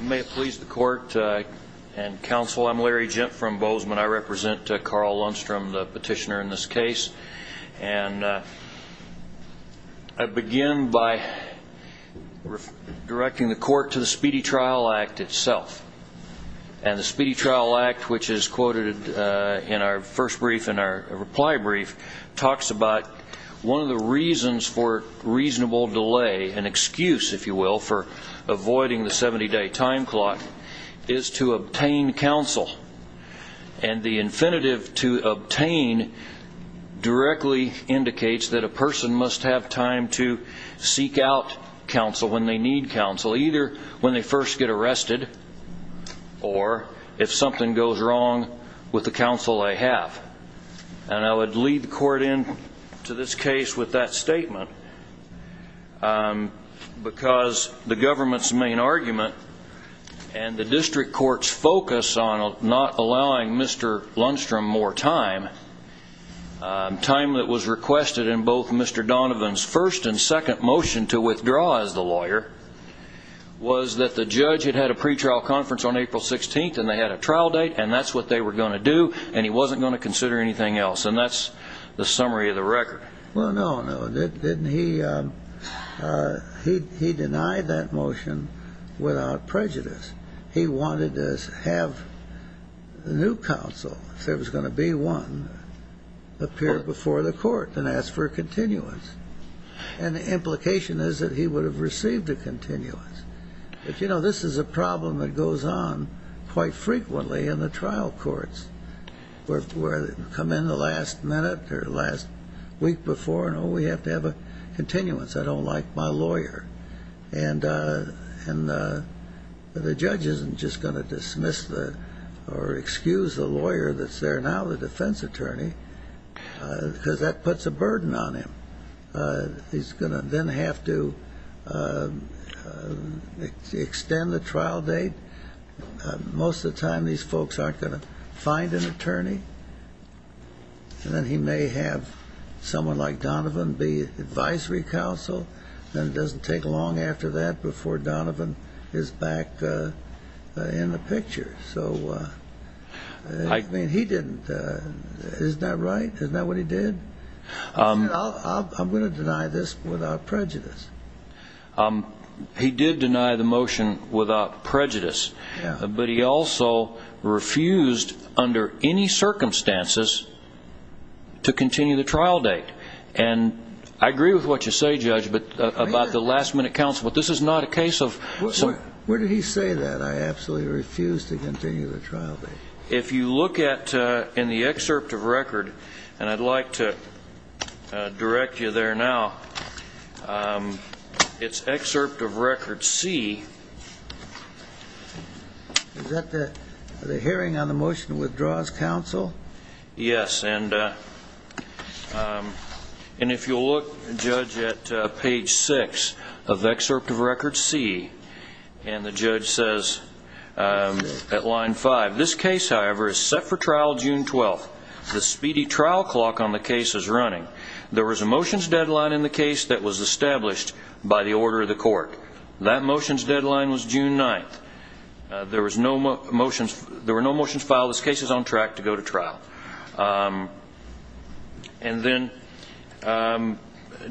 May it please the court and counsel, I'm Larry Gent from Bozeman. I represent Carl Lundstrom, the petitioner in this case. And I begin by directing the court to the Speedy Trial Act itself. And the Speedy Trial Act, which is quoted in our first brief, in our reply brief, talks about one of the reasons for reasonable delay, an excuse, if you will, for avoiding the 70-day time clock, is to obtain counsel. And the infinitive to obtain directly indicates that a person must have time to seek out counsel when they need counsel, either when they first get arrested or if something goes wrong with the counsel they have. And I would lead the court in to this case with that statement because the government's main argument and the district court's focus on not allowing Mr. Lundstrom more time, time that was requested in both Mr. Donovan's first and second motion to withdraw as the lawyer, was that the judge had had a pretrial conference on April 16th and they had a trial date and that's what they were going to do and he wasn't going to consider anything else. And that's the summary of the record. Well, no, no. Didn't he deny that motion without prejudice. He wanted to have the new counsel, if there was going to be one, appear before the court and ask for a continuance. And the implication is that he would have received a continuance. But, you know, this is a problem that goes on quite frequently in the trial courts where they come in the last minute or the last week before and, oh, we have to have a continuance. I don't like my lawyer. And the judge isn't just going to dismiss the or excuse the lawyer that's there now, the defense attorney, because that puts a burden on him. He's going to then have to extend the trial date. Most of the time these folks aren't going to find an attorney. And then he may have someone like Donovan be advisory counsel and it doesn't take long and he didn't. Isn't that right? Isn't that what he did? He said, I'm going to deny this without prejudice. He did deny the motion without prejudice. Yeah. But he also refused under any circumstances to continue the trial date. And I agree with what you say, Judge, but about the last minute counsel, but this is not a case of... Where did he say that I absolutely refuse to continue the trial date? If you look at, in the excerpt of record, and I'd like to direct you there now, it's excerpt of record C. Is that the hearing on the motion that withdraws counsel? Yes. And if you'll look, Judge, at page 6 of excerpt of record C, and the judge says at line 5, this case, however, is set for trial June 12th. The speedy trial clock on the case is running. There was a motions deadline in the case that was established by the order of the court. That motions deadline was June 9th. There were no motions filed. This case is on track to go to trial. And then,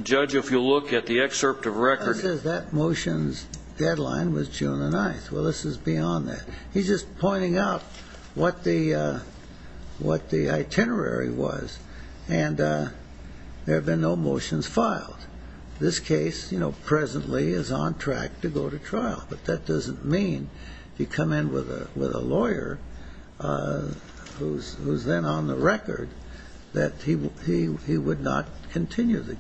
Judge, if you'll look at the excerpt of record... That motions deadline was June 9th. Well, this is beyond that. He's just pointing out what the itinerary was. And there have been no motions filed. This case, you know, presently is on track to go to trial. But that doesn't mean if you come in with a lawyer who's then on the record that he would not continue the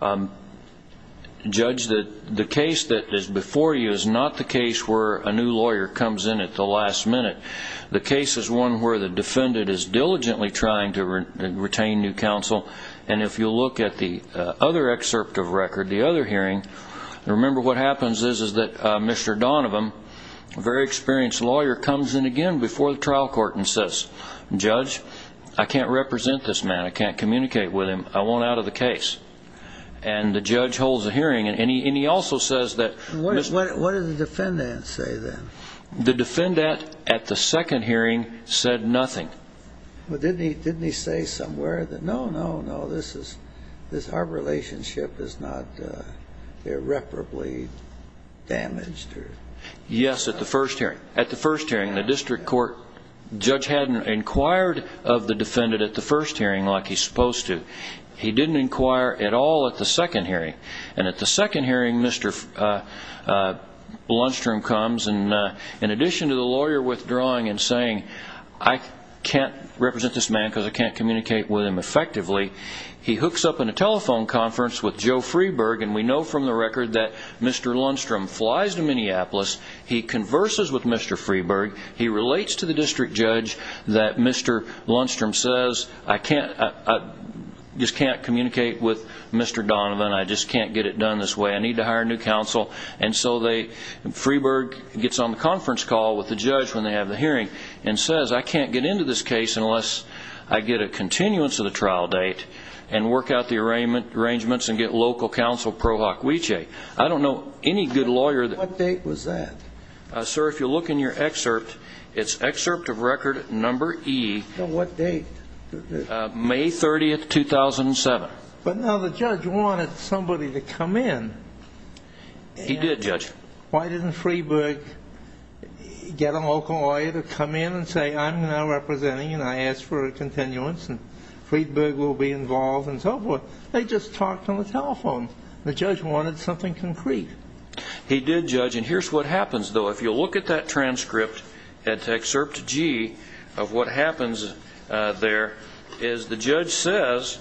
trial. Judge, the case that is before you is not the case where a new lawyer comes in at the last minute. The case is one where the defendant is diligently trying to retain new counsel. And if you'll look at the other excerpt of record, the other hearing, remember what happens is that Mr. Donovan, a very experienced lawyer, comes in again before the trial court and says, Judge, I can't represent this man. I can't communicate with him. I want out of the case. And the judge holds a hearing. And he also says that... What did the defendant say then? The defendant at the second hearing said nothing. Well, didn't he say somewhere that no, no, no, this is, this hard relationship is not irreparably damaged? Yes, at the first hearing, the district court judge hadn't inquired of the defendant at the first hearing like he's supposed to. He didn't inquire at all at the second hearing. And at the second hearing, Mr. Lundstrom comes. And in addition to the lawyer withdrawing and saying, I can't represent this man because I can't communicate with him effectively, he hooks up in a telephone conference with Joe Freeburg. And we know from the record that Mr. Lundstrom flies to Freeburg. He relates to the district judge that Mr. Lundstrom says, I can't, I just can't communicate with Mr. Donovan. I just can't get it done this way. I need to hire a new counsel. And so they, Freeburg gets on the conference call with the judge when they have the hearing and says, I can't get into this case unless I get a continuance of the trial date and work out the arrangements and get local counsel Prohoc Weche. I don't know any good lawyer. What date was that? Sir, if you look in your excerpt, it's excerpt of record number E. What date? May 30th, 2007. But now the judge wanted somebody to come in. He did, Judge. Why didn't Freeburg get a local lawyer to come in and say, I'm now representing and I ask for a continuance and Freeburg will be involved and so forth. They just talked on the telephone. The judge wanted something concrete. He did, Judge. And here's what happens, though. If you look at that transcript at excerpt G of what happens there is the judge says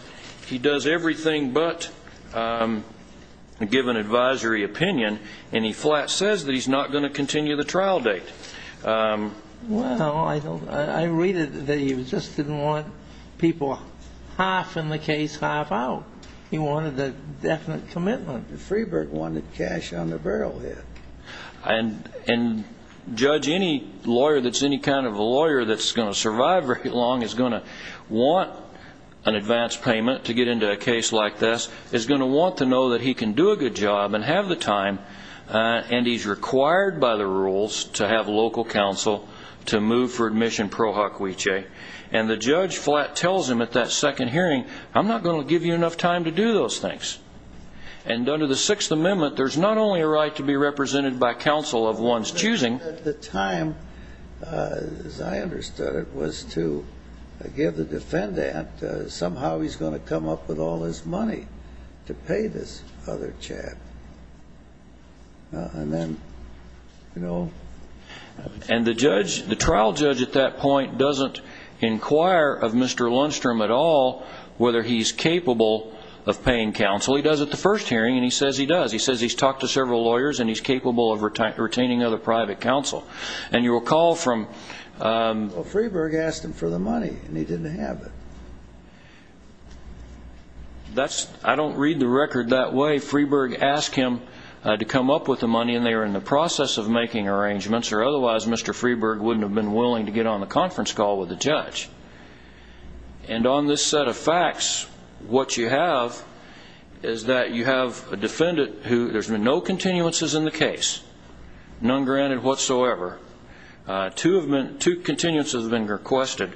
he does everything but give an advisory opinion and he flat says that he's not going to continue the trial date. Well, I read it that he just didn't want people half in the case, half out. He wanted a definite commitment. Freeburg wanted cash on the barrel, yes. And, Judge, any lawyer that's any kind of a lawyer that's going to survive very long is going to want an advance payment to get into a case like this, is going to want to know that he can do a good job and have the time and he's required by the rules to have that second hearing. I'm not going to give you enough time to do those things. And under the Sixth Amendment, there's not only a right to be represented by counsel of one's choosing. At the time, as I understood it, was to give the defendant somehow he's going to come up with all his money to pay this other chap. And then, you know. And the judge, the trial judge, doesn't say to Blundstrom at all whether he's capable of paying counsel. He does at the first hearing and he says he does. He says he's talked to several lawyers and he's capable of retaining other private counsel. And you'll recall from. Well, Freeburg asked him for the money and he didn't have it. That's, I don't read the record that way. Freeburg asked him to come up with the money and they were in the process of making arrangements or otherwise Mr. Freeburg wouldn't have been willing to get on the conference call with the judge. And on this set of facts, what you have is that you have a defendant who there's been no continuances in the case. None granted whatsoever. Two continuances have been requested.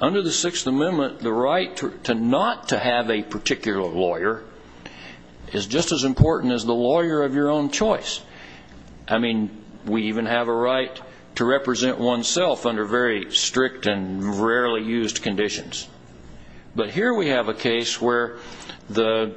Under the Sixth Amendment, the right to not to have a particular lawyer is just as important as the lawyer of your own choice. I mean, we even have a right to rarely used conditions. But here we have a case where the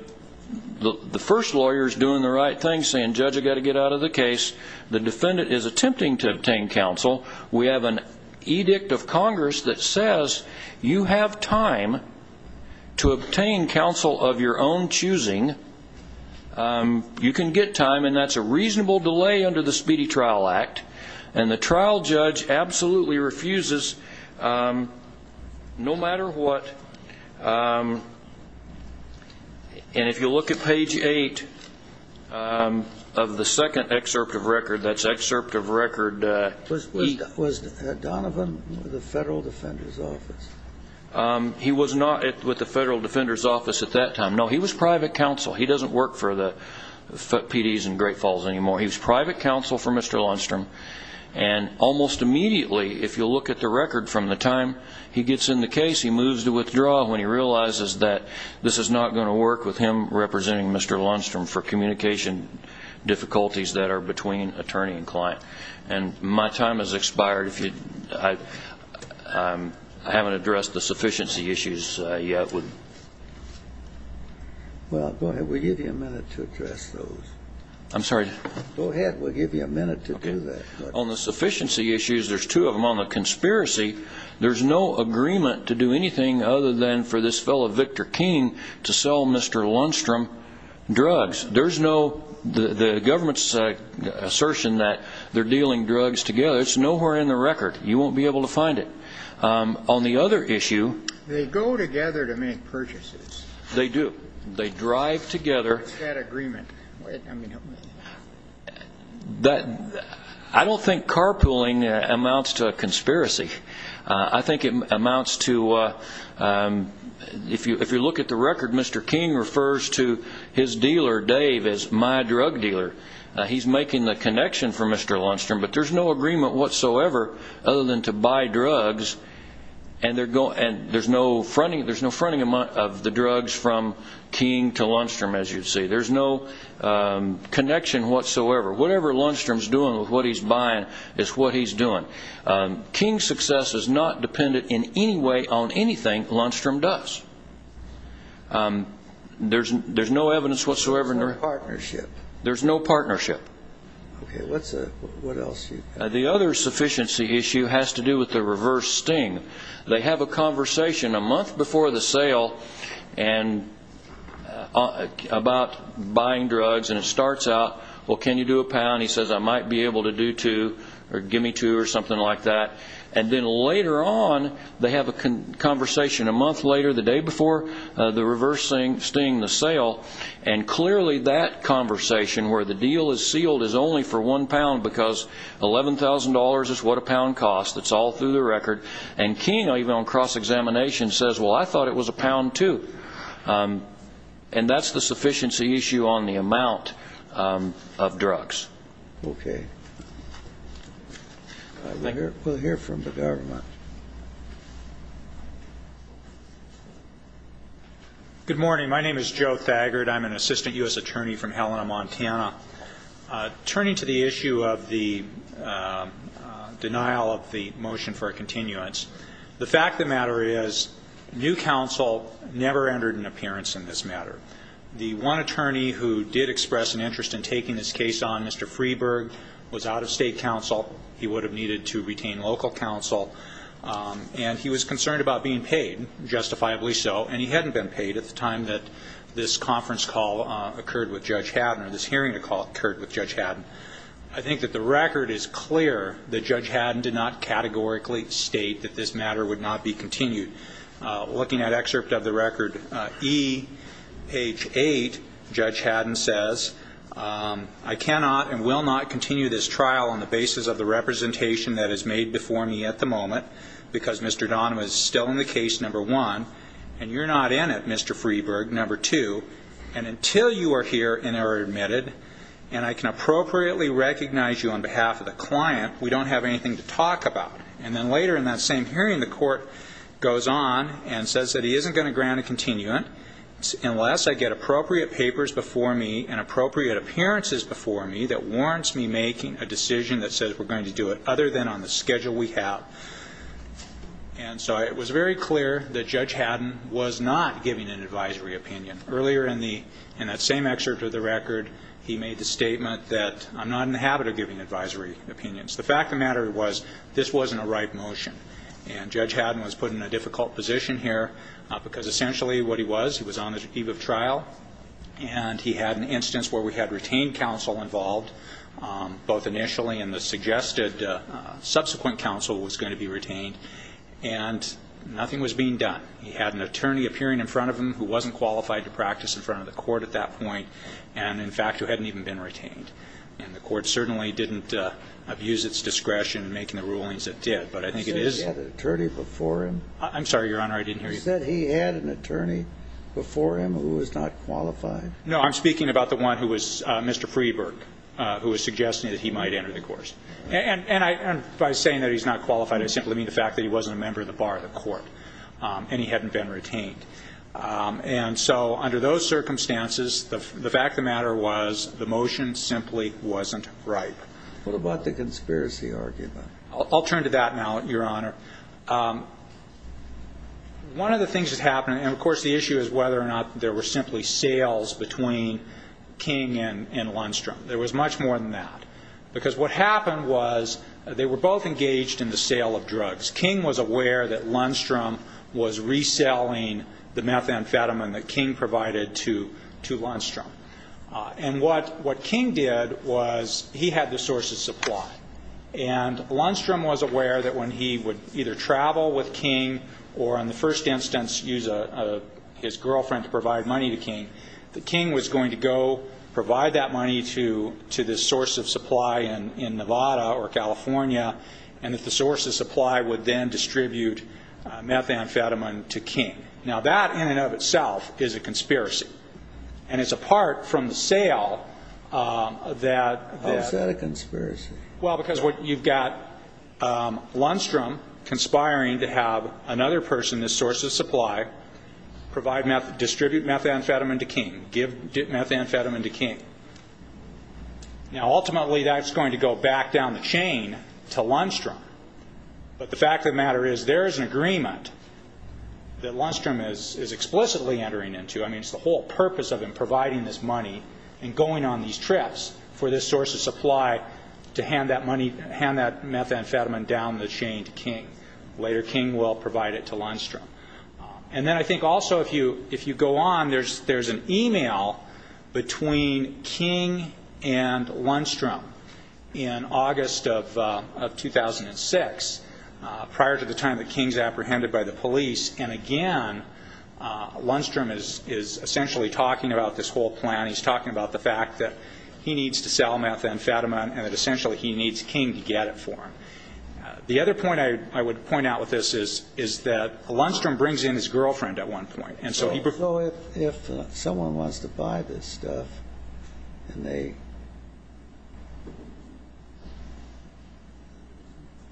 first lawyer is doing the right thing, saying, Judge, I've got to get out of the case. The defendant is attempting to obtain counsel. We have an edict of Congress that says you have time to obtain counsel of your own choosing. You can get time and that's a reasonable delay under the Speedy No matter what, and if you look at page 8 of the second excerpt of record, that's excerpt of record 8. Was Donovan with the Federal Defender's Office? He was not with the Federal Defender's Office at that time. No, he was private counsel. He doesn't work for the PDs in Great Falls anymore. He was private counsel for Mr. Lundstrom and almost immediately, if you look at the record from the time he gets in the case, he moves to withdraw when he realizes that this is not going to work with him representing Mr. Lundstrom for communication difficulties that are between attorney and client. And my time has expired. I haven't addressed the sufficiency issues yet. Well, go ahead. We'll give you a minute to address those. I'm sorry? Go ahead. We'll give you a minute to do that. On the sufficiency issues, there's two of them. On the conspiracy, there's no agreement to do anything other than for this fellow Victor King to sell Mr. Lundstrom drugs. There's no, the government's assertion that they're dealing drugs together, it's nowhere in the record. You won't be able to find it. On the other issue... They go together to make purchases. They do. They drive together. What's that agreement? I don't think carpooling amounts to a conspiracy. I think it amounts to, if you look at the record, Mr. King refers to his dealer, Dave, as my drug dealer. He's making the connection for Mr. Lundstrom, but there's no agreement whatsoever other than to buy drugs, and there's no fronting of the drugs from King to Lundstrom, as you'd see. There's no connection whatsoever. Whatever Lundstrom's doing with what he's buying is what he's doing. King's success is not dependent in any way on anything Lundstrom does. There's no evidence whatsoever... There's no partnership. There's no partnership. Okay, what else do you have? The other sufficiency issue has to do with the reverse sting. They have a conversation a month before the sale about buying drugs, and it starts out, well, can you do a pound? He says, I might be able to do two, or give me two, or something like that. And then later on, they have a conversation a month later, the day before the reverse sting, the sale, and clearly that conversation, where the deal is sealed, is only for one pound, because $11,000 is what a pound costs. It's all through the record. And King, even on cross-examination, says, well, I thought it was a pound, too. And that's the sufficiency issue on the amount of drugs. Okay. We'll hear from the government. Good morning. My name is Joe Thagard. I'm an assistant U.S. attorney from Helena, Montana. Turning to the issue of the denial of the motion for a continuance, the fact of the matter is, new counsel never entered an appearance in this matter. The one attorney who did express an interest in taking this case on, Mr. Freeburg, was out-of-state counsel. He would have needed to retain local counsel. And he was concerned about being paid, justifiably so. And he hadn't been paid at the time that this conference call occurred with Judge Haddon, or this hearing call occurred with Judge Haddon. I think that the record is clear that Judge Haddon did not categorically state that this matter would not be continued. Looking at excerpt of the record, E, page 8, Judge Haddon says, I cannot and will not continue this trial on the basis of the representation that is made before me at the moment, because Mr. Donovan is still in the case, number one, and you're not in it, Mr. Freeburg, number two, and until you are here and are admitted and I can appropriately recognize you on behalf of the client, we don't have anything to talk about. And then later in that same hearing, the court goes on and says that he isn't going to grant a continuant unless I get appropriate papers before me and appropriate appearances before me that warrants me making a decision that says we're going to do it other than on the schedule we have. And so it was very clear that Judge Haddon was not giving an advisory opinion. Earlier in the, in that same excerpt of the record, he made the statement that I'm not in the habit of giving advisory opinions. The fact of the matter was this wasn't a right And Judge Haddon was put in a difficult position here because essentially what he was, he was on the eve of trial and he had an instance where we had retained counsel involved, both initially and the suggested subsequent counsel was going to be retained, and nothing was being done. He had an attorney appearing in front of him who wasn't qualified to practice in front of the court at that point and, in fact, who hadn't even been retained. And the court certainly didn't abuse its discretion in making the rulings it did, but I think it is He said he had an attorney before him. I'm sorry, Your Honor, I didn't hear you. He said he had an attorney before him who was not qualified. No, I'm speaking about the one who was, Mr. Freeburg, who was suggesting that he might enter the course. And by saying that he's not qualified, I simply mean the fact that he wasn't a member of the bar, the court, and he hadn't been retained. And so under those circumstances, the fact of the matter was the motion simply wasn't right. What about the conspiracy argument? I'll turn to that now, Your Honor. One of the things that happened, and of course the issue is whether or not there were simply sales between King and Lundstrom. There was much more than that. Because what happened was they were both engaged in the sale of Lundstrom. And what King did was he had the source of supply. And Lundstrom was aware that when he would either travel with King or, in the first instance, use his girlfriend to provide money to King, that King was going to go provide that money to this source of supply in Nevada or California, and that the source of supply would then distribute methamphetamine to King. Now that, in and of itself, is a conspiracy. And it's apart from the sale that How is that a conspiracy? Well, because you've got Lundstrom conspiring to have another person, this source of supply, distribute methamphetamine to King, give methamphetamine to King. Now ultimately that's going to go back down the chain to Lundstrom. But the fact of the matter is there is an agreement that Lundstrom is explicitly entering into. I mean, it's the whole purpose of him providing this money and going on these trips for this source of supply to hand that methamphetamine down the chain to King. Later King will provide it to Lundstrom. And then I think also if you go on, there's an email between King and Lundstrom in the August of 2006, prior to the time that King's apprehended by the police. And again, Lundstrom is essentially talking about this whole plan. He's talking about the fact that he needs to sell methamphetamine and that essentially he needs King to get it for him. The other point I would point out with this is that Lundstrom brings in his girlfriend at one point, and so he has a girlfriend. So if someone wants to buy this stuff and they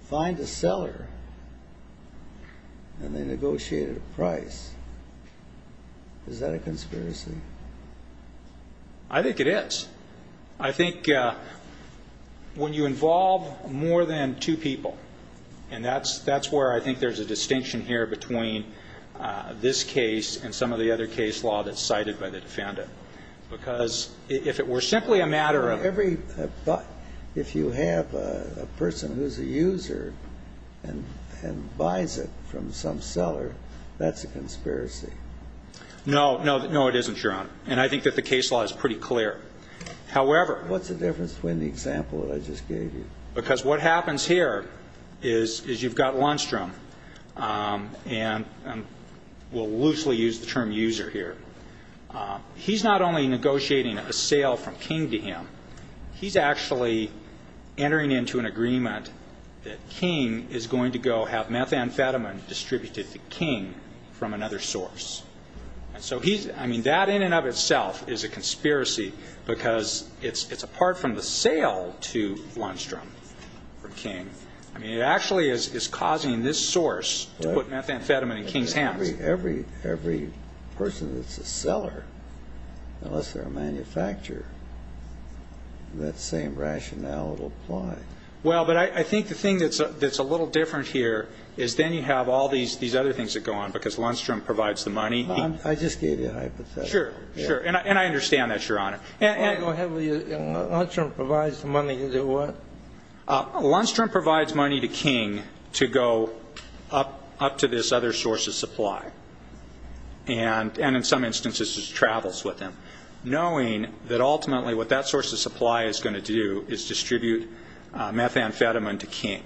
find a seller and they negotiate a price, is that a conspiracy? I think it is. I think when you involve more than two people, and that's where I think there's a distinction here between this case and some of the other case law that's cited by the defendant. Because if it were simply a matter of... If you have a person who's a user and buys it from some seller, that's a conspiracy. No, it isn't, Your Honor. And I think that the case law is pretty clear. However... What's the difference between the example that I just gave you? Because what happens here is you've got Lundstrom, and we'll loosely use the term user here. He's not only negotiating a sale from King to him, he's actually entering into an agreement that King is going to go have methamphetamine distributed to King from another source. So that in and of itself is a conspiracy, because it's apart from the sale to Lundstrom from King. It actually is causing this source to put methamphetamine in King's hands. Every person that's a seller, unless they're a manufacturer, that same rationale will apply. Well, but I think the thing that's a little different here is then you have all these other things that go on, because Lundstrom provides the money. I just gave you a hypothesis. Sure, sure. And I understand that, Your Honor. Go ahead. Lundstrom provides the money to what? Lundstrom provides money to King to go up to this other source of supply, and in some instances just travels with him, knowing that ultimately what that source of supply is going to do is distribute methamphetamine to King.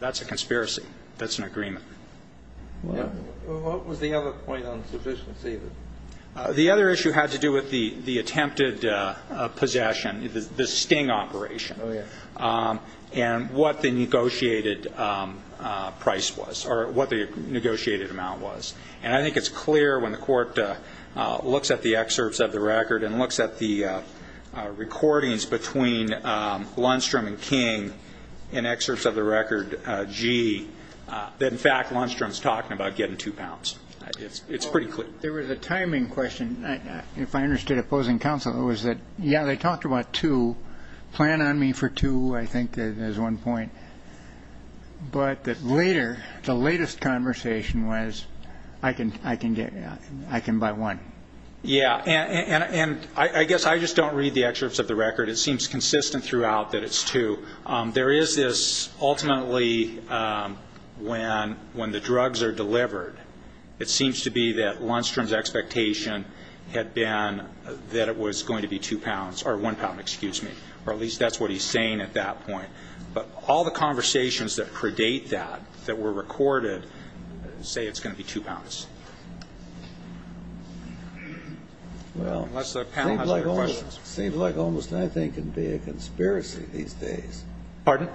That's a conspiracy. That's an agreement. What was the other point on sufficiency? The other issue had to do with the attempted possession, the sting operation, and what the negotiated price was, or what the negotiated amount was. And I think it's clear when the recordings between Lundstrom and King in excerpts of the record, G, that in fact Lundstrom's talking about getting two pounds. It's pretty clear. There was a timing question, if I understood opposing counsel, was that, yeah, they talked about two, plan on me for two, I think is one point. But that later, the latest conversation was I can buy one. Yeah, and I guess I just don't read the excerpts of the record. It seems consistent throughout that it's two. There is this, ultimately, when the drugs are delivered, it seems to be that Lundstrom's expectation had been that it was going to be two pounds, or one pound, excuse me, or at least that's what he's saying at that point. But all the conversations that predate that, that were recorded, say it's going to be two pounds. Well, it seems like almost anything can be a conspiracy these days. Pardon?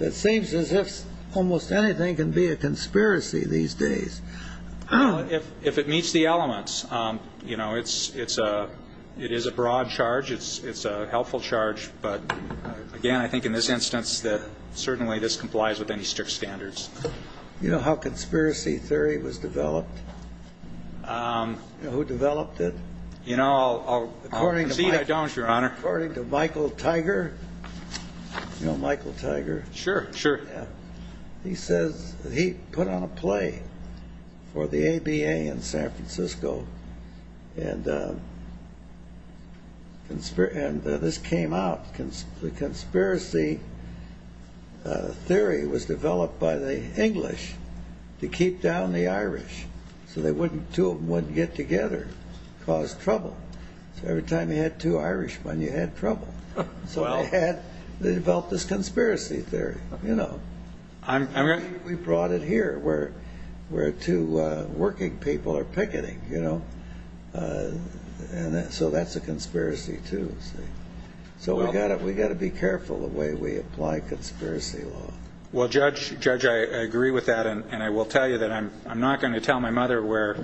It seems as if almost anything can be a conspiracy these days. Well, if it meets the elements, you know, it is a broad charge. It's a helpful charge. But again, I think in this instance that certainly this complies with any strict standards. You know how conspiracy theory was developed? You know who developed it? You know, I'll proceed, I don't, Your Honor. According to Michael Tiger, you know Michael Tiger? Sure, sure. Yeah. He says that he put on a play for the ABA in San Francisco, and this came out. The conspiracy theory was developed by the English to keep down the Irish. So they wouldn't, two of them wouldn't get together, cause trouble. So every time you had two Irishmen, you had trouble. So they had, they developed this conspiracy theory, you know. I'm ready. We brought it here where two working people are picketing, you know. So that's a conspiracy too, see. So we've got to be careful the way we apply conspiracy law. Well, Judge, I agree with that. And I will tell you that I'm not going to tell my mother where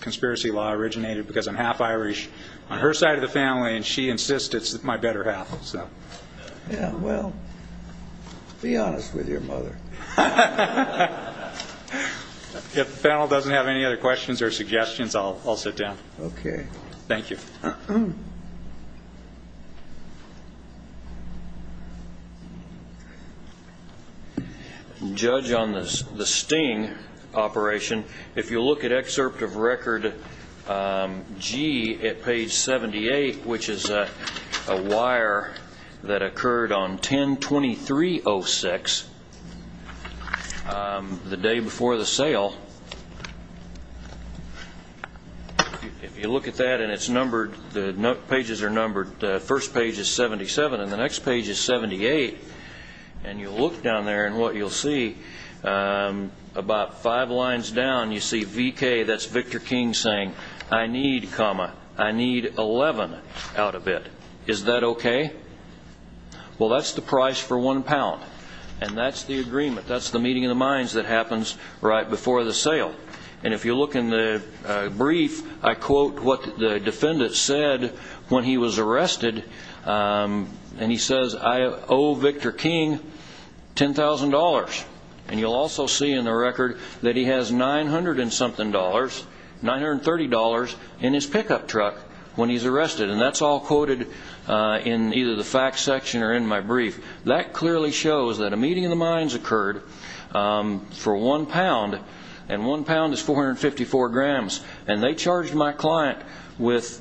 conspiracy law originated, because I'm half Irish on her side of the family, and she insists it's my better half. Yeah, well, be honest with your mother. If the panel doesn't have any other questions or suggestions, I'll sit down. Okay. Thank you. Judge, on the sting operation, if you look at excerpt of record G at page 78, which is a wire that occurred on 10-23-06, the day before the sale, if you look at that and it's numbered, the pages are numbered, the first page is 77 and the next page is 78, and you look down there and what you'll see, about five lines down, you see VK, that's Victor King, saying, I need comma, I need 11 out of it. Is that okay? Well, that's the price for one pound, and that's the agreement, that's the meeting of the minds that happens right before the sale. And if you look in the brief, I quote what the defendant said when he was arrested, and he says, I owe Victor King $10,000. And you'll also see in the record that he has $900 and something, $930, in his pickup truck when he's arrested, and that's all quoted in either the facts section or in my brief. That clearly shows that a meeting of the minds occurred for one pound, and one pound is 454 grams, and they charged my client with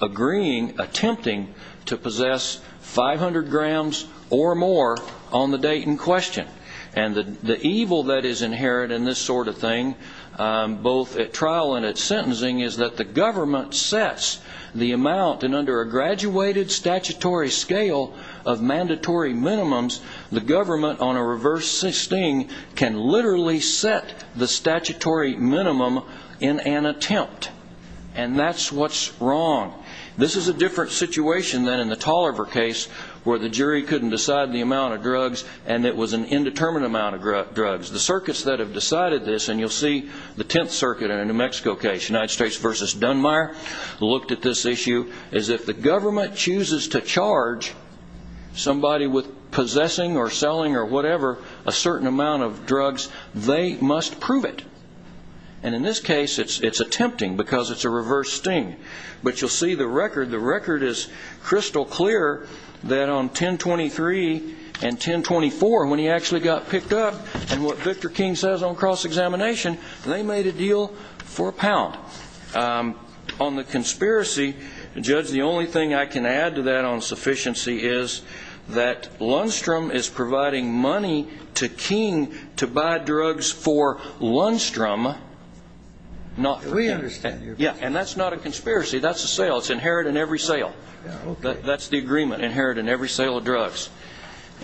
agreeing, attempting to possess 500 grams or more on the date in question. And the evil that is inherent in this sort of thing, both at trial and at sentencing, is that the government sets the amount, and under a graduated statutory scale of mandatory minimums, the government on a reverse sting can literally set the statutory minimum in an attempt, and that's what's wrong. This is a different situation than in the Tolliver case, where the jury couldn't decide the amount of drugs, and it was an indeterminate amount of drugs. The circuits that have decided this, and you'll see the Tenth Circuit in a New Mexico case, United States v. Dunmire, looked at this issue as if the government chooses to charge somebody with possessing or selling or whatever a certain amount of drugs, they must prove it. And in this case, it's attempting because it's a reverse sting. But you'll see the record. The record is crystal clear that on 1023 and 1024, when he actually got picked up, and what Victor King says on cross-examination, they made a deal for a pound. On the conspiracy, Judge, the only thing I can add to that on sufficiency is that Lundstrom is providing money to King to buy drugs for Lundstrom, not for King. We understand your point. And that's not a conspiracy. That's a sale. It's inherited in every sale. That's the agreement, inherited in every sale of drugs.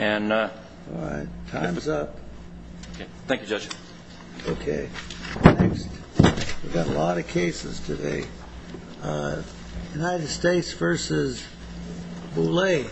All right. Time's up. Thank you, Judge. Okay. Next. We've got a lot of cases today. United States v. Boulay.